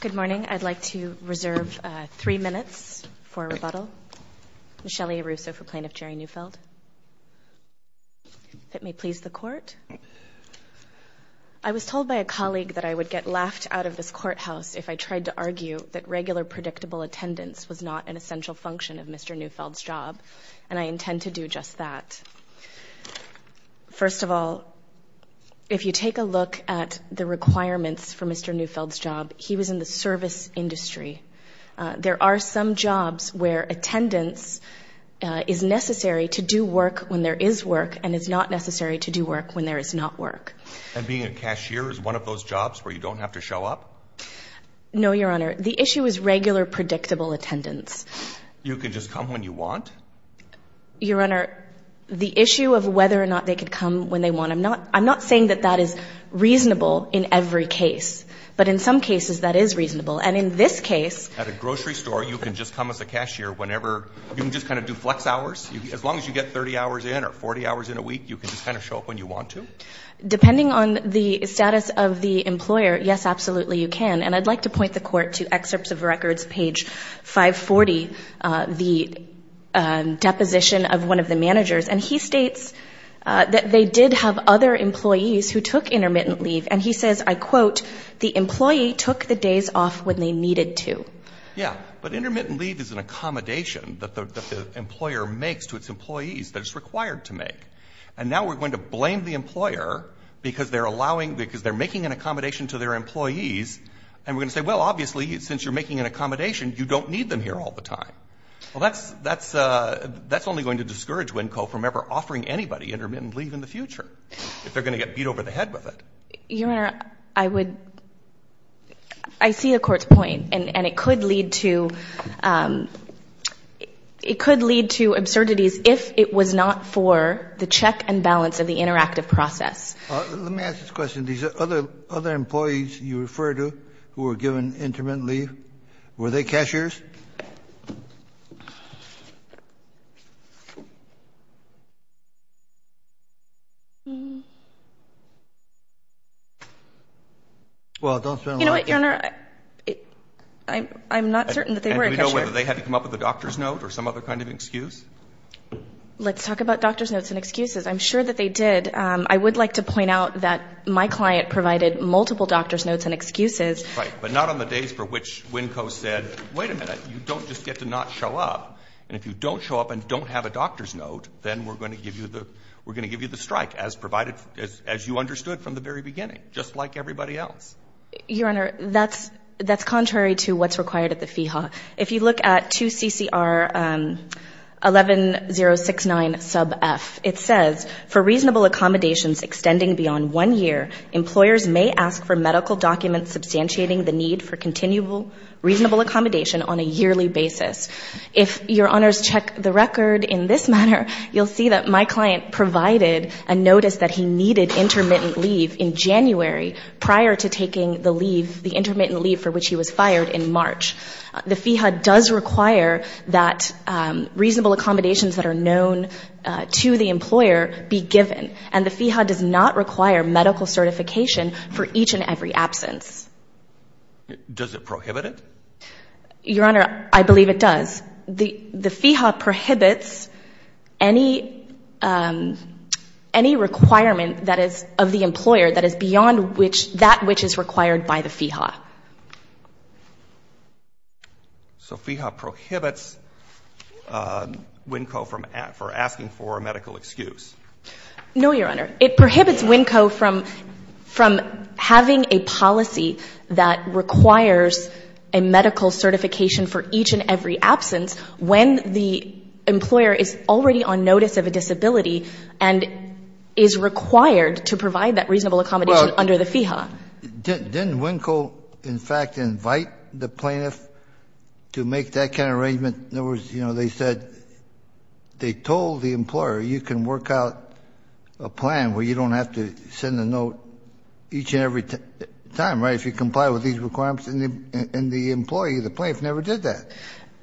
Good morning. I'd like to reserve three minutes for rebuttal. Michelle A. Russo for Plaintiff Jerry Neufeld. If it may please the Court. I was told by a colleague that I would get laughed out of this courthouse if I tried to argue that regular predictable attendance was not an essential function of Mr. Neufeld's job, and I intend to do just that. First of all, if you take a look at the requirements for Mr. Neufeld's job, he was in the service industry. There are some jobs where attendance is necessary to do work when there is work and is not necessary to do work when there is not work. And being a cashier is one of those jobs where you don't have to show up? No, Your Honor. The issue is regular predictable attendance. You could just come when you want? Your Honor, the issue of whether or not they could come when they want, I'm not saying that that is reasonable in every case, but in some cases that is reasonable. And in this case— At a grocery store, you can just come as a cashier whenever—you can just kind of do flex hours? As long as you get 30 hours in or 40 hours in a week, you can just kind of show up when you want to? Depending on the status of the employer, yes, absolutely, you can. And I'd like to point the Court to excerpts of records, page 540, the deposition of one of the managers. And he states that they did have other employees who took intermittent leave. And he says, I quote, the employee took the days off when they needed to. Yeah, but intermittent leave is an accommodation that the employer makes to its employees that it's required to make. And now we're going to blame the employer because they're allowing— And we're going to say, well, obviously, since you're making an accommodation, you don't need them here all the time. Well, that's only going to discourage WNCO from ever offering anybody intermittent leave in the future if they're going to get beat over the head with it. Your Honor, I would—I see the Court's point. And it could lead to absurdities if it was not for the check and balance of the interactive process. Let me ask this question. These other employees you refer to who were given intermittent leave, were they cashiers? Well, don't spend a lot of time— You know what, Your Honor? I'm not certain that they were a cashier. And do we know whether they had to come up with a doctor's note or some other kind of excuse? Let's talk about doctor's notes and excuses. I'm sure that they did. And I would like to point out that my client provided multiple doctor's notes and excuses. Right. But not on the days for which WNCO said, wait a minute, you don't just get to not show up. And if you don't show up and don't have a doctor's note, then we're going to give you the strike, as provided—as you understood from the very beginning, just like everybody else. Your Honor, that's contrary to what's required at the FEHA. If you look at 2 CCR 11069 sub F, it says, for reasonable accommodations extending beyond one year, employers may ask for medical documents substantiating the need for continual reasonable accommodation on a yearly basis. If Your Honors check the record in this manner, you'll see that my client provided a notice that he needed intermittent leave in January prior to taking the leave, the intermittent leave for which he was fired in March. The FEHA does require that reasonable accommodations that are known to the employer be given. And the FEHA does not require medical certification for each and every absence. Does it prohibit it? Your Honor, I believe it does. The FEHA prohibits any requirement that is of the employer that is beyond that which is required by the FEHA. So FEHA prohibits WNCO for asking for a medical excuse. No, Your Honor. It prohibits WNCO from having a policy that requires a medical certification for each and every absence when the employer is already on notice of a disability and is required to provide that reasonable accommodation under the FEHA. Didn't WNCO, in fact, invite the plaintiff to make that kind of arrangement? In other words, you know, they said they told the employer, you can work out a plan where you don't have to send a note each and every time, right, if you comply with these requirements, and the employee, the plaintiff, never did that,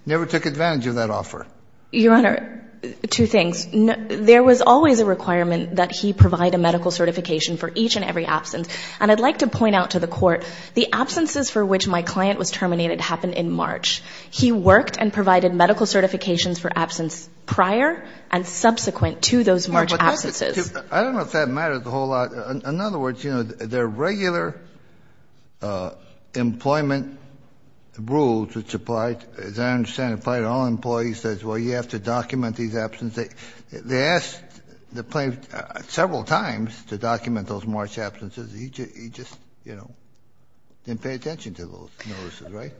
never took advantage of that offer. Your Honor, two things. There was always a requirement that he provide a medical certification for each and every absence. And I'd like to point out to the Court, the absences for which my client was terminated happened in March. He worked and provided medical certifications for absence prior and subsequent to those March absences. I don't know if that matters a whole lot. In other words, you know, their regular employment rules, which apply, as I understand, apply to all employees, says, well, you have to document these absences. They asked the plaintiff several times to document those March absences. He just, you know, didn't pay attention to those notices, right?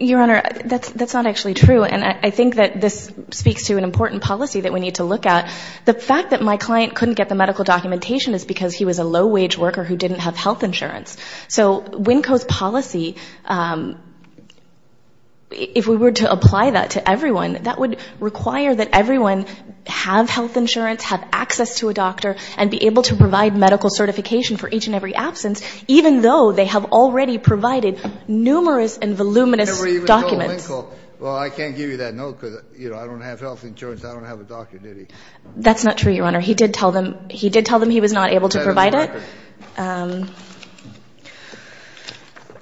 Your Honor, that's not actually true. And I think that this speaks to an important policy that we need to look at. The fact that my client couldn't get the medical documentation is because he was a low-wage worker who didn't have health insurance. So WNCO's policy, if we were to apply that to everyone, that would require that everyone have health insurance, have access to a doctor, and be able to provide medical certification for each and every absence, even though they have already provided numerous and voluminous documents. Kennedy. Never even told WNCO, well, I can't give you that note because, you know, I don't have health insurance. I don't have a doctor duty. That's not true, Your Honor. He did tell them. He did tell them he was not able to provide it. That is in the record.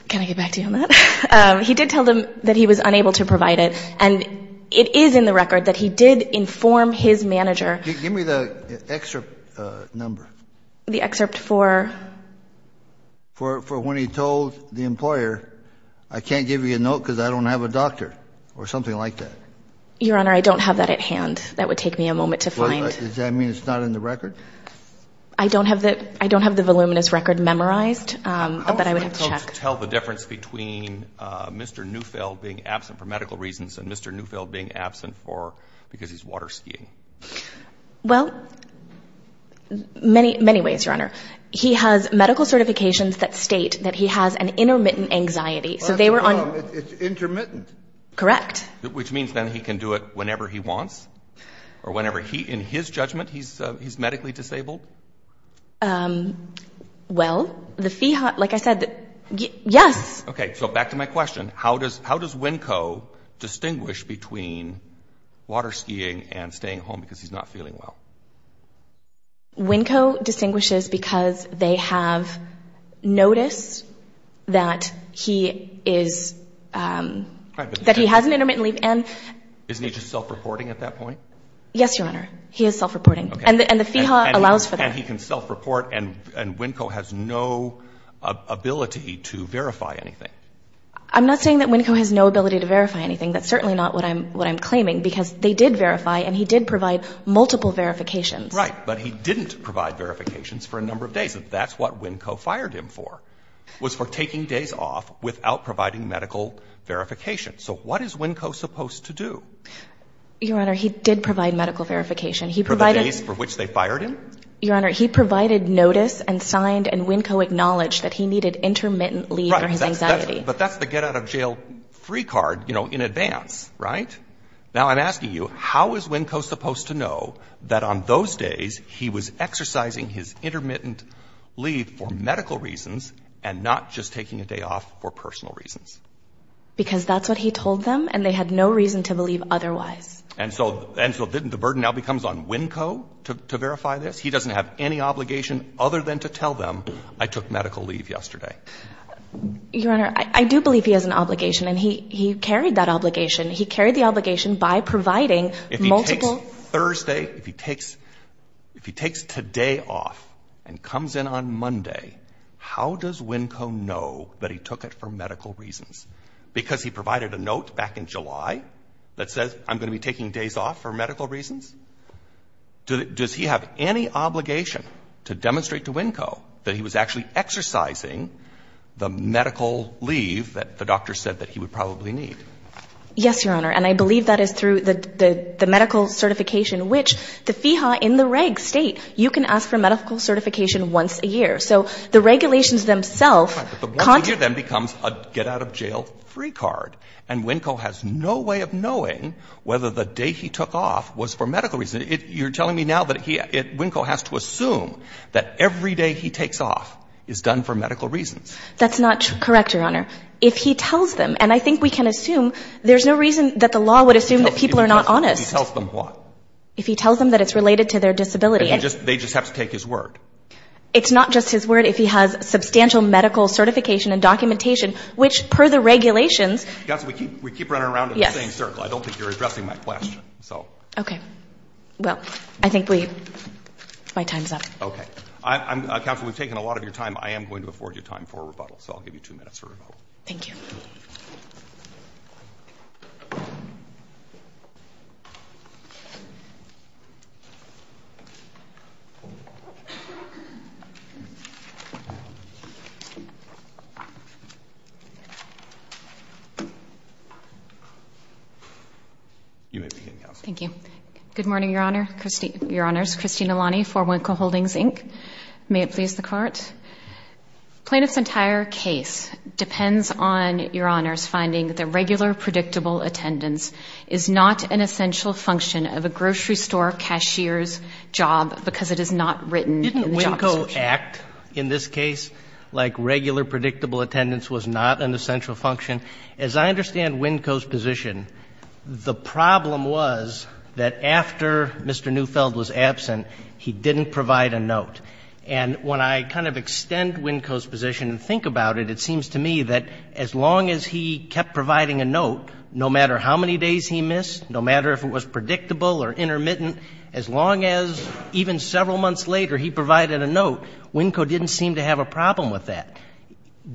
Can I get back to you on that? He did tell them that he was unable to provide it. And it is in the record that he did inform his manager. Give me the excerpt number. The excerpt for? For when he told the employer, I can't give you a note because I don't have a doctor, or something like that. Your Honor, I don't have that at hand. That would take me a moment to find. Does that mean it's not in the record? I don't have the voluminous record memorized, but I would have to check. How is WNCO to tell the difference between Mr. Neufeld being absent for medical reasons and Mr. Neufeld being absent because he's water skiing? Well, many ways, Your Honor. He has medical certifications that state that he has an intermittent anxiety. So they were on the It's intermittent. Correct. Which means then he can do it whenever he wants? Or whenever he, in his judgment, he's medically disabled? Well, the fee, like I said, yes. Okay. So back to my question. How does WNCO distinguish between water skiing and staying home because he's not feeling well? WNCO distinguishes because they have noticed that he is, that he has an intermittent leave and Isn't he just self-reporting at that point? Yes, Your Honor. He is self-reporting. Okay. And the FEHA allows for that. And he can self-report and WNCO has no ability to verify anything. I'm not saying that WNCO has no ability to verify anything. That's certainly not what I'm claiming because they did verify and he did provide multiple verifications. Right. But he didn't provide verifications for a number of days. That's what WNCO fired him for, was for taking days off without providing medical verification. So what is WNCO supposed to do? Your Honor, he did provide medical verification. For the days for which they fired him? Your Honor, he provided notice and signed and WNCO acknowledged that he needed intermittent leave for his anxiety. But that's the get out of jail free card, you know, in advance, right? Now I'm asking you, how is WNCO supposed to know that on those days he was exercising his intermittent leave for medical reasons and not just taking a day off for personal reasons? Because that's what he told them and they had no reason to believe otherwise. And so the burden now becomes on WNCO to verify this? He doesn't have any obligation other than to tell them I took medical leave yesterday. Your Honor, I do believe he has an obligation and he carried that obligation. He carried the obligation by providing multiple. If he takes Thursday, if he takes today off and comes in on Monday, how does WNCO know that he took it for medical reasons? Because he provided a note back in July that says I'm going to be taking days off for medical reasons? Does he have any obligation to demonstrate to WNCO that he was actually exercising the medical leave that the doctor said that he would probably need? Yes, Your Honor, and I believe that is through the medical certification, which the FEHA in the reg state, you can ask for medical certification once a year. So the regulations themselves. But once a year then becomes a get-out-of-jail-free card. And WNCO has no way of knowing whether the day he took off was for medical reasons. You're telling me now that WNCO has to assume that every day he takes off is done for medical reasons? That's not correct, Your Honor. If he tells them, and I think we can assume there's no reason that the law would assume that people are not honest. If he tells them what? If he tells them that it's related to their disability. They just have to take his word? It's not just his word. If he has substantial medical certification and documentation, which per the regulations. Counsel, we keep running around in the same circle. I don't think you're addressing my question, so. Okay. Well, I think my time's up. Okay. Counsel, we've taken a lot of your time. I am going to afford you time for rebuttal, so I'll give you two minutes for rebuttal. Thank you. You may begin, Counsel. Thank you. Good morning, Your Honors. Christine Elani for WNCO Holdings, Inc. May it please the Court. Plaintiff's entire case depends on, Your Honors, finding that the regular predictable attendance is not an essential function of a grocery store cashier's job because it is not written in the job description. Didn't WNCO act, in this case, like regular predictable attendance was not an essential function? As I understand WNCO's position, the problem was that after Mr. Neufeld was absent, he didn't provide a note. And when I kind of extend WNCO's position and think about it, it seems to me that as long as he kept providing a note, no matter how many days he missed, no matter if it was predictable or intermittent, as long as even several months later he provided a note, WNCO didn't seem to have a problem with that.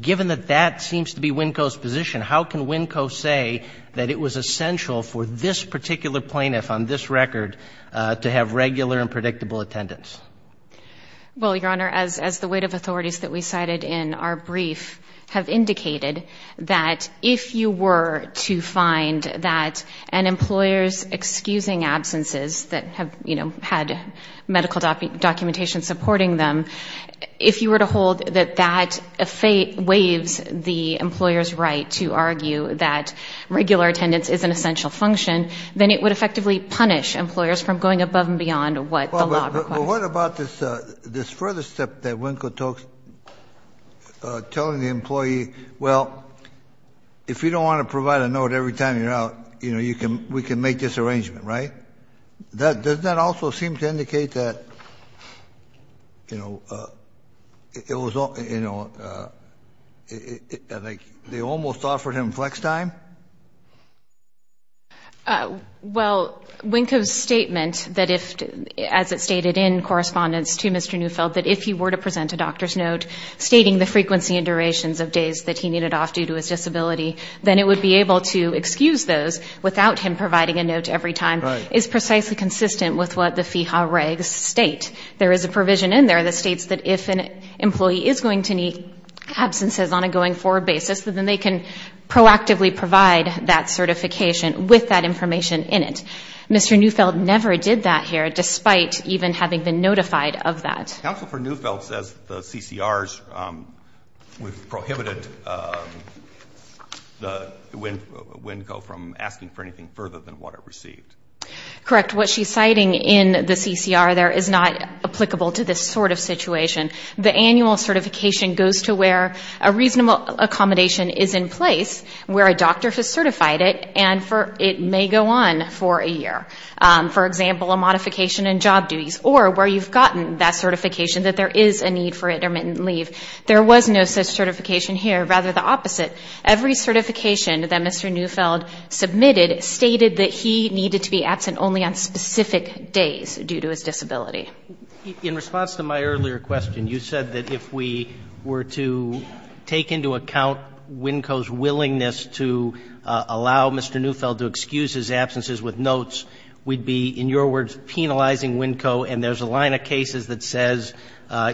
Given that that seems to be WNCO's position, how can WNCO say that it was essential for this particular plaintiff on this record to have regular and predictable attendance? Well, Your Honor, as the weight of authorities that we cited in our brief have indicated, that if you were to find that an employer's excusing absences that have, you know, had medical documentation supporting them, if you were to hold that that waives the employer's right to argue that regular attendance is an essential function, then it would effectively punish employers from going above and beyond what the law requires. Well, what about this further step that WNCO took, telling the employee, well, if you don't want to provide a note every time you're out, you know, we can make this arrangement, right? Doesn't that also seem to indicate that, you know, they almost offered him flex time? Well, WNCO's statement that if, as it stated in correspondence to Mr. Neufeld, that if he were to present a doctor's note stating the frequency and durations of days that he needed off due to his disability, then it would be able to excuse those without him providing a note every time. Right. It's precisely consistent with what the FEHA regs state. There is a provision in there that states that if an employee is going to need absences on a going-forward basis, then they can proactively provide that certification with that information in it. Mr. Neufeld never did that here, despite even having been notified of that. Counsel for Neufeld says the CCRs prohibited WNCO from asking for anything further than what it received. Correct. What she's citing in the CCR there is not applicable to this sort of situation. The annual certification goes to where a reasonable accommodation is in place, where a doctor has certified it, and it may go on for a year. For example, a modification in job duties or where you've gotten that certification that there is a need for intermittent leave. There was no such certification here. Rather, the opposite. Every certification that Mr. Neufeld submitted stated that he needed to be absent only on specific days due to his disability. In response to my earlier question, you said that if we were to take into account WNCO's willingness to allow Mr. Neufeld's absences with notes, we'd be, in your words, penalizing WNCO, and there's a line of cases that says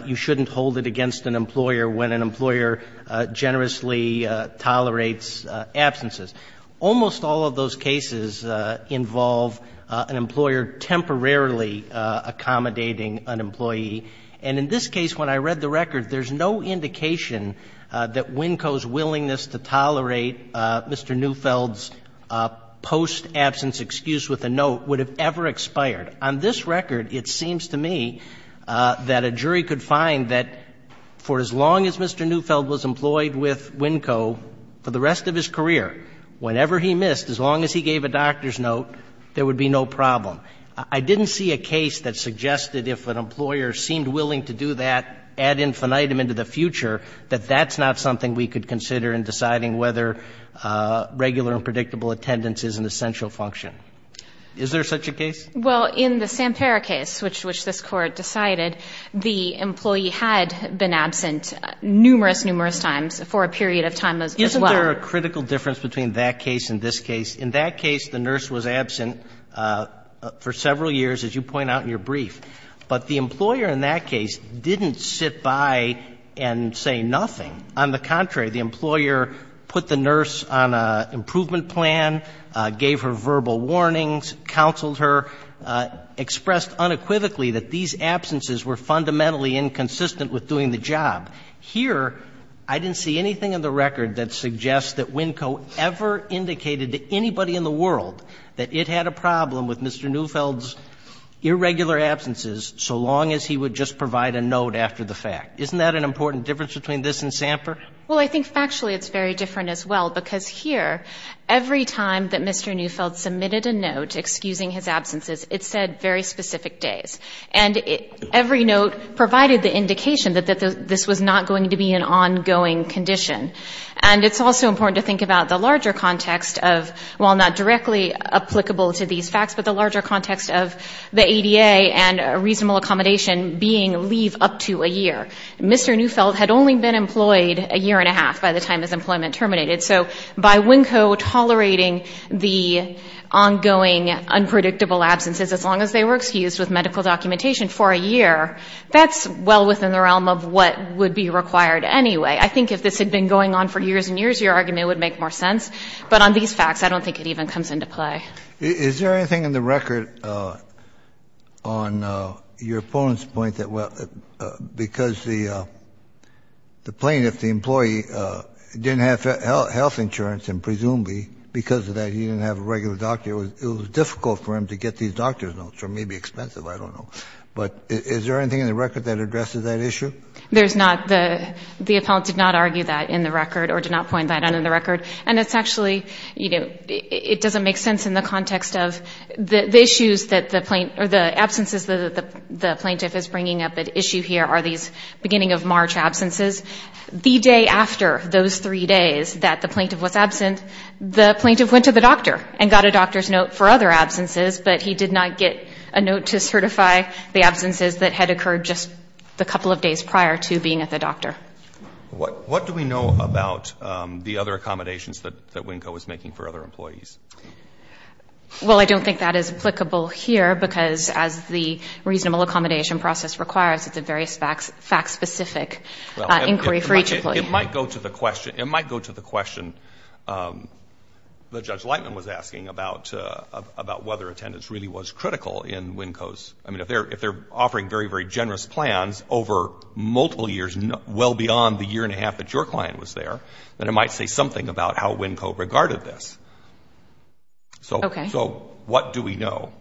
you shouldn't hold it against an employer when an employer generously tolerates absences. Almost all of those cases involve an employer temporarily accommodating an employee. And in this case, when I read the record, there's no indication that WNCO's willingness to tolerate Mr. Neufeld's post-absence excuse with a note would have ever expired. On this record, it seems to me that a jury could find that for as long as Mr. Neufeld was employed with WNCO for the rest of his career, whenever he missed, as long as he gave a doctor's note, there would be no problem. I didn't see a case that suggested if an employer seemed willing to do that ad infinitum into the future, that that's not something we could consider in deciding whether regular and predictable attendance is an essential function. Is there such a case? Well, in the Sampera case, which this Court decided, the employee had been absent numerous, numerous times for a period of time as well. Isn't there a critical difference between that case and this case? In that case, the nurse was absent for several years, as you point out in your brief. But the employer in that case didn't sit by and say nothing. On the contrary, the employer put the nurse on an improvement plan, gave her verbal warnings, counseled her, expressed unequivocally that these absences were fundamentally inconsistent with doing the job. Here, I didn't see anything in the record that suggests that WNCO ever indicated to anybody in the world that it had a problem with Mr. Neufeld's irregular absence so long as he would just provide a note after the fact. Isn't that an important difference between this and Samper? Well, I think factually it's very different as well, because here, every time that Mr. Neufeld submitted a note excusing his absences, it said very specific days. And every note provided the indication that this was not going to be an ongoing condition. And it's also important to think about the larger context of, while not directly applicable to these facts, but the larger context of the ADA and reasonable accommodation being leave up to a year. Mr. Neufeld had only been employed a year and a half by the time his employment terminated. So by WNCO tolerating the ongoing, unpredictable absences as long as they were excused with medical documentation for a year, that's well within the realm of what would be required anyway. I think if this had been going on for years and years, your argument would make more sense. But on these facts, I don't think it even comes into play. Is there anything in the record on your opponent's point that because the plaintiff's employee didn't have health insurance, and presumably because of that he didn't have a regular doctor, it was difficult for him to get these doctor's notes or maybe expensive, I don't know. But is there anything in the record that addresses that issue? There's not. The appellant did not argue that in the record or did not point that out in the record. And it's actually, you know, it doesn't make sense in the context of the issues that the plaintiff or the absences that the plaintiff is bringing up at issue here are these beginning of March absences. The day after those three days that the plaintiff was absent, the plaintiff went to the doctor and got a doctor's note for other absences, but he did not get a note to certify the absences that had occurred just a couple of days prior to being at the doctor. What do we know about the other accommodations that WNCO is making for other employees? Well, I don't think that is applicable here because as the reasonable accommodation process requires, it's a very fact-specific inquiry for each employee. It might go to the question that Judge Lightman was asking about whether attendance really was critical in WNCO's, I mean, if they're offering very, very well beyond the year and a half that your client was there, then it might say something about how WNCO regarded this. Okay. So what do we know?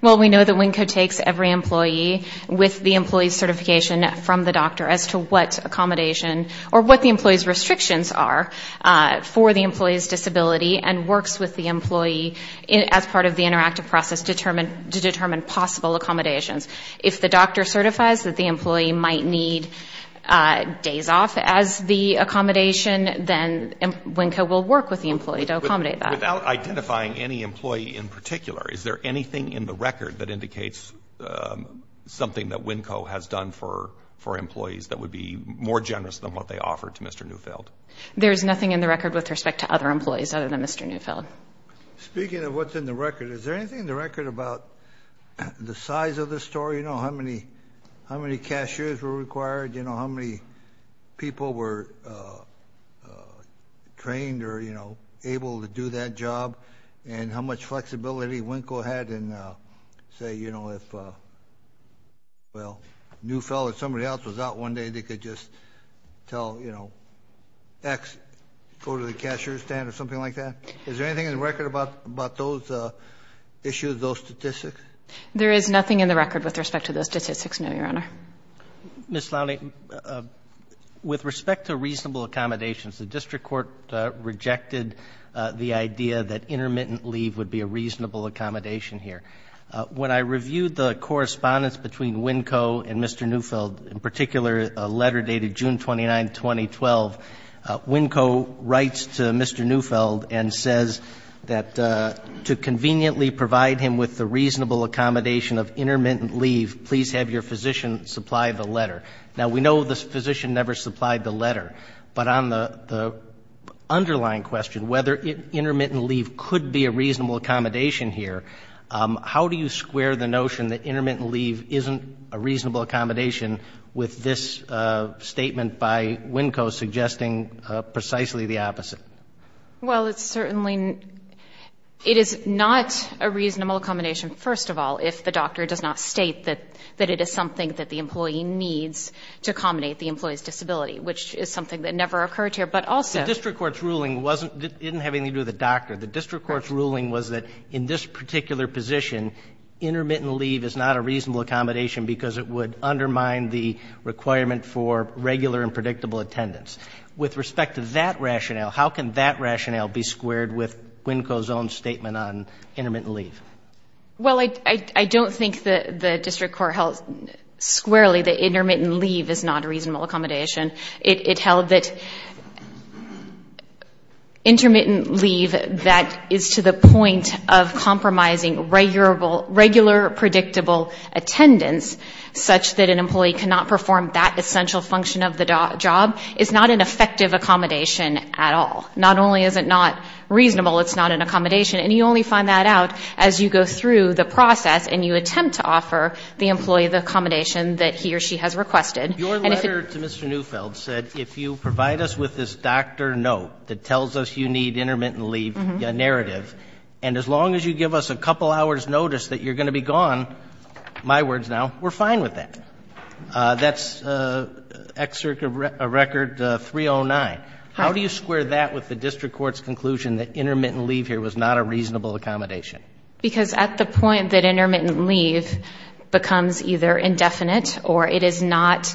Well, we know that WNCO takes every employee with the employee's certification from the doctor as to what accommodation or what the employee's restrictions are for the employee's disability and works with the employee as part of the interactive process to determine possible accommodations. If the doctor certifies that the employee might need days off as the accommodation, then WNCO will work with the employee to accommodate that. Without identifying any employee in particular, is there anything in the record that indicates something that WNCO has done for employees that would be more generous than what they offered to Mr. Neufeld? There is nothing in the record with respect to other employees other than Mr. Neufeld. Speaking of what's in the record, is there anything in the record about the size of the store, you know, how many cashiers were required, you know, how many people were trained or, you know, able to do that job, and how much flexibility WNCO had and say, you know, if, well, Neufeld or somebody else was out one day, they could just tell, you know, X, go to the cashier's stand or something like that? Is there anything in the record about those issues, those statistics? There is nothing in the record with respect to those statistics, no, Your Honor. Ms. Lowney, with respect to reasonable accommodations, the district court rejected the idea that intermittent leave would be a reasonable accommodation here. When I reviewed the correspondence between WNCO and Mr. Neufeld, in particular a letter dated June 29, 2012, WNCO writes to Mr. Neufeld and says that to conveniently provide him with the reasonable accommodation of intermittent leave, please have your physician supply the letter. Now, we know the physician never supplied the letter. But on the underlying question, whether intermittent leave could be a reasonable accommodation here, how do you square the notion that intermittent leave isn't a reasonable accommodation with this statement by WNCO suggesting precisely the opposite? Well, it's certainly — it is not a reasonable accommodation, first of all, if the doctor does not state that it is something that the employee needs to accommodate the employee's disability, which is something that never occurred here. But also — The district court's ruling wasn't — didn't have anything to do with the doctor. The district court's ruling was that in this particular position, intermittent leave is not a reasonable accommodation because it would undermine the requirement for regular and predictable attendance. With respect to that rationale, how can that rationale be squared with WNCO's own statement on intermittent leave? Well, I don't think the district court held squarely that intermittent leave is not a reasonable accommodation. It held that intermittent leave that is to the point of compromising regular predictable attendance, such that an employee cannot perform that essential function of the job, is not an effective accommodation at all. Not only is it not reasonable, it's not an accommodation. And you only find that out as you go through the process and you attempt to offer the employee the accommodation that he or she has requested. Your letter to Mr. Neufeld said if you provide us with this doctor note that tells us you need intermittent leave narrative, and as long as you give us a couple hours notice that you're going to be gone, my words now, we're fine with that. That's Excerpt of Record 309. How do you square that with the district court's conclusion that intermittent leave here was not a reasonable accommodation? Because at the point that intermittent leave becomes either indefinite or it is not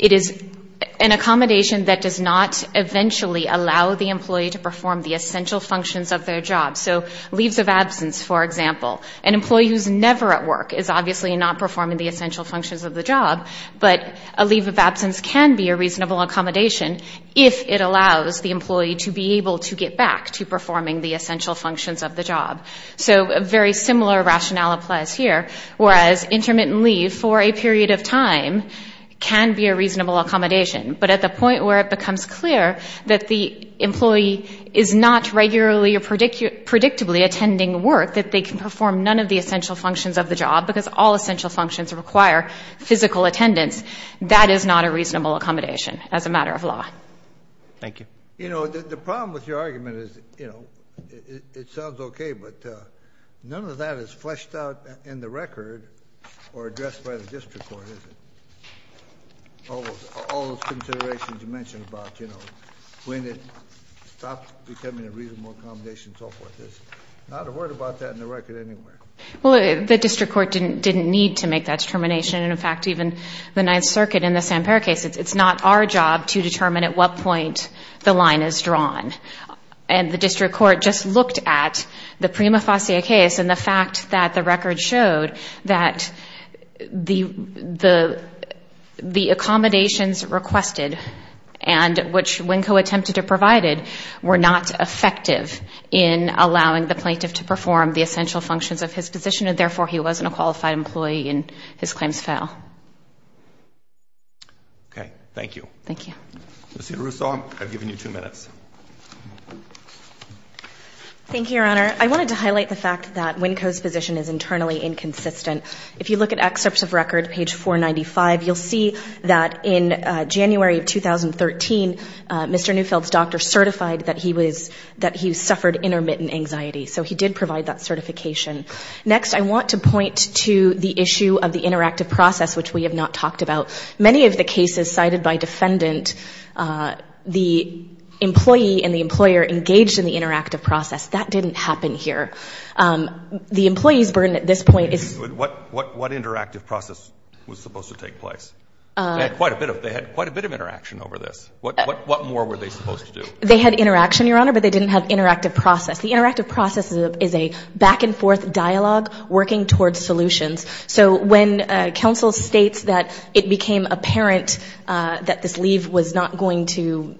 an accommodation that does not eventually allow the employee to perform the essential functions of their job. So leaves of absence, for example. An employee who's never at work is obviously not performing the essential functions of the job, but a leave of absence can be a reasonable accommodation if it allows the employee to be able to get back to performing the essential functions of the job. So a very similar rationale applies here, whereas intermittent leave for a period of time can be a reasonable accommodation. But at the point where it becomes clear that the employee is not regularly or can perform none of the essential functions of the job because all essential functions require physical attendance, that is not a reasonable accommodation as a matter of law. Thank you. You know, the problem with your argument is, you know, it sounds okay, but none of that is fleshed out in the record or addressed by the district court, is it? All those considerations you mentioned about, you know, when it stops becoming a Well, the district court didn't need to make that determination. And in fact, even the Ninth Circuit in the Samper case, it's not our job to determine at what point the line is drawn. And the district court just looked at the Prima Facie case and the fact that the record showed that the accommodations requested and which Winco attempted to provide were not effective in allowing the plaintiff to perform the essential functions of his position, and therefore, he wasn't a qualified employee and his claims fail. Okay. Thank you. Thank you. Ms. Idar-Russo, I've given you two minutes. Thank you, Your Honor. I wanted to highlight the fact that Winco's position is internally inconsistent. If you look at excerpts of record, page 495, you'll see that in January of 2013, Mr. Winco said that he suffered intermittent anxiety. So he did provide that certification. Next, I want to point to the issue of the interactive process, which we have not talked about. Many of the cases cited by defendant, the employee and the employer engaged in the interactive process. That didn't happen here. The employee's burden at this point is What interactive process was supposed to take place? They had quite a bit of interaction over this. What more were they supposed to do? They had interaction, Your Honor, but they didn't have interactive process. The interactive process is a back-and-forth dialogue working towards solutions. So when counsel states that it became apparent that this leave was not going to,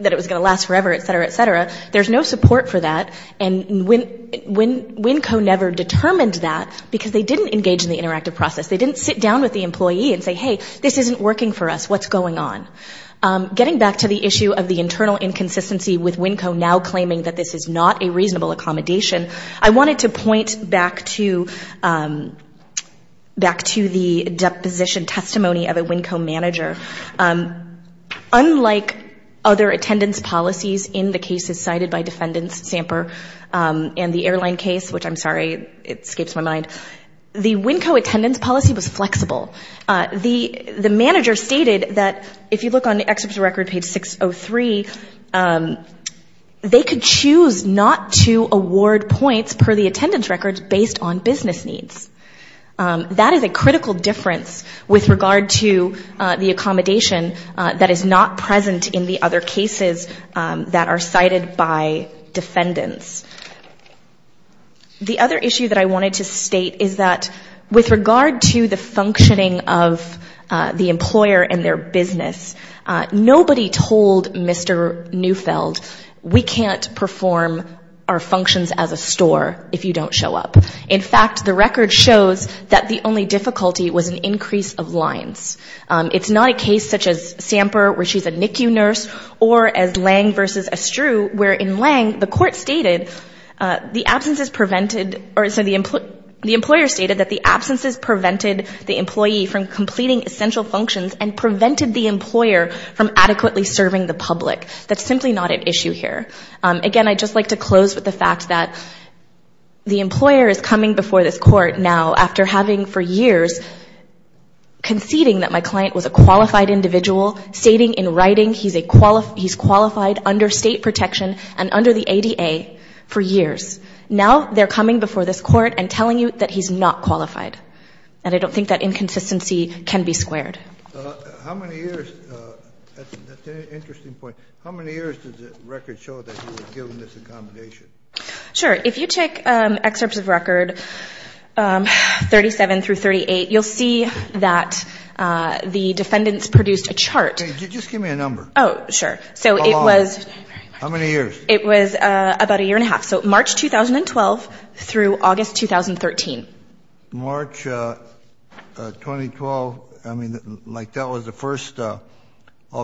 that it was going to last forever, et cetera, et cetera, there's no support for that. And Winco never determined that because they didn't engage in the interactive process. They didn't sit down with the employee and say, hey, this isn't working for us. What's going on? Getting back to the issue of the internal inconsistency with Winco now claiming that this is not a reasonable accommodation, I wanted to point back to the deposition testimony of a Winco manager. Unlike other attendance policies in the cases cited by defendants, Samper, and the airline case, which I'm sorry, it escapes my mind, the Winco attendance policy was flexible. The manager stated that if you look on the excerpt of the record, page 603, they could choose not to award points per the attendance records based on business needs. That is a critical difference with regard to the accommodation that is not present in the other cases that are cited by defendants. The other issue that I wanted to state is that with regard to the functioning of the employer and their business, nobody told Mr. Neufeld, we can't perform our functions as a store if you don't show up. In fact, the record shows that the only difficulty was an increase of lines. It's not a case such as Samper, where she's a NICU nurse, or as Lange versus Estrue, where in Lange the court stated the absence is prevented, or so the employer stated that the absence is prevented the employee from completing essential functions and prevented the employer from adequately serving the public. That's simply not at issue here. Again, I'd just like to close with the fact that the employer is coming before this court now, after having for years conceding that my client was a qualified individual, stating in writing he's qualified under state protection and under the ADA for years. Now they're coming before this court and telling you that he's not qualified. And I don't think that inconsistency can be squared. That's an interesting point. How many years does the record show that he was given this accommodation? Sure. If you take excerpts of record 37 through 38, you'll see that the defendants produced a chart. Just give me a number. Oh, sure. How long? How many years? It was about a year and a half, so March 2012 through August 2013. March 2012, I mean, like that was the first, I'll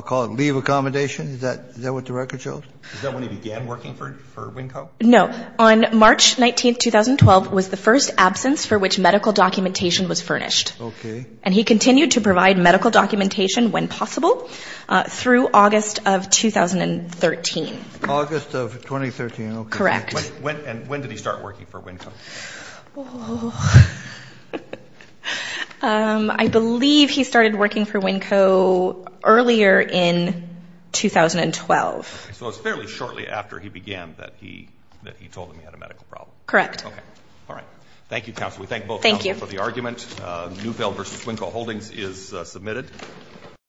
call it, leave accommodation? Is that what the record shows? Is that when he began working for WNCO? No. On March 19, 2012, was the first absence for which medical documentation was furnished. Okay. And he continued to provide medical documentation when possible through August of 2013. August of 2013, okay. Correct. And when did he start working for WNCO? I believe he started working for WNCO earlier in 2012. So it was fairly shortly after he began that he told them he had a medical problem. Correct. Okay. All right. Thank you, counsel. We thank both counsel for the argument. Thank you. Neufeld v. WNCO Holdings is submitted.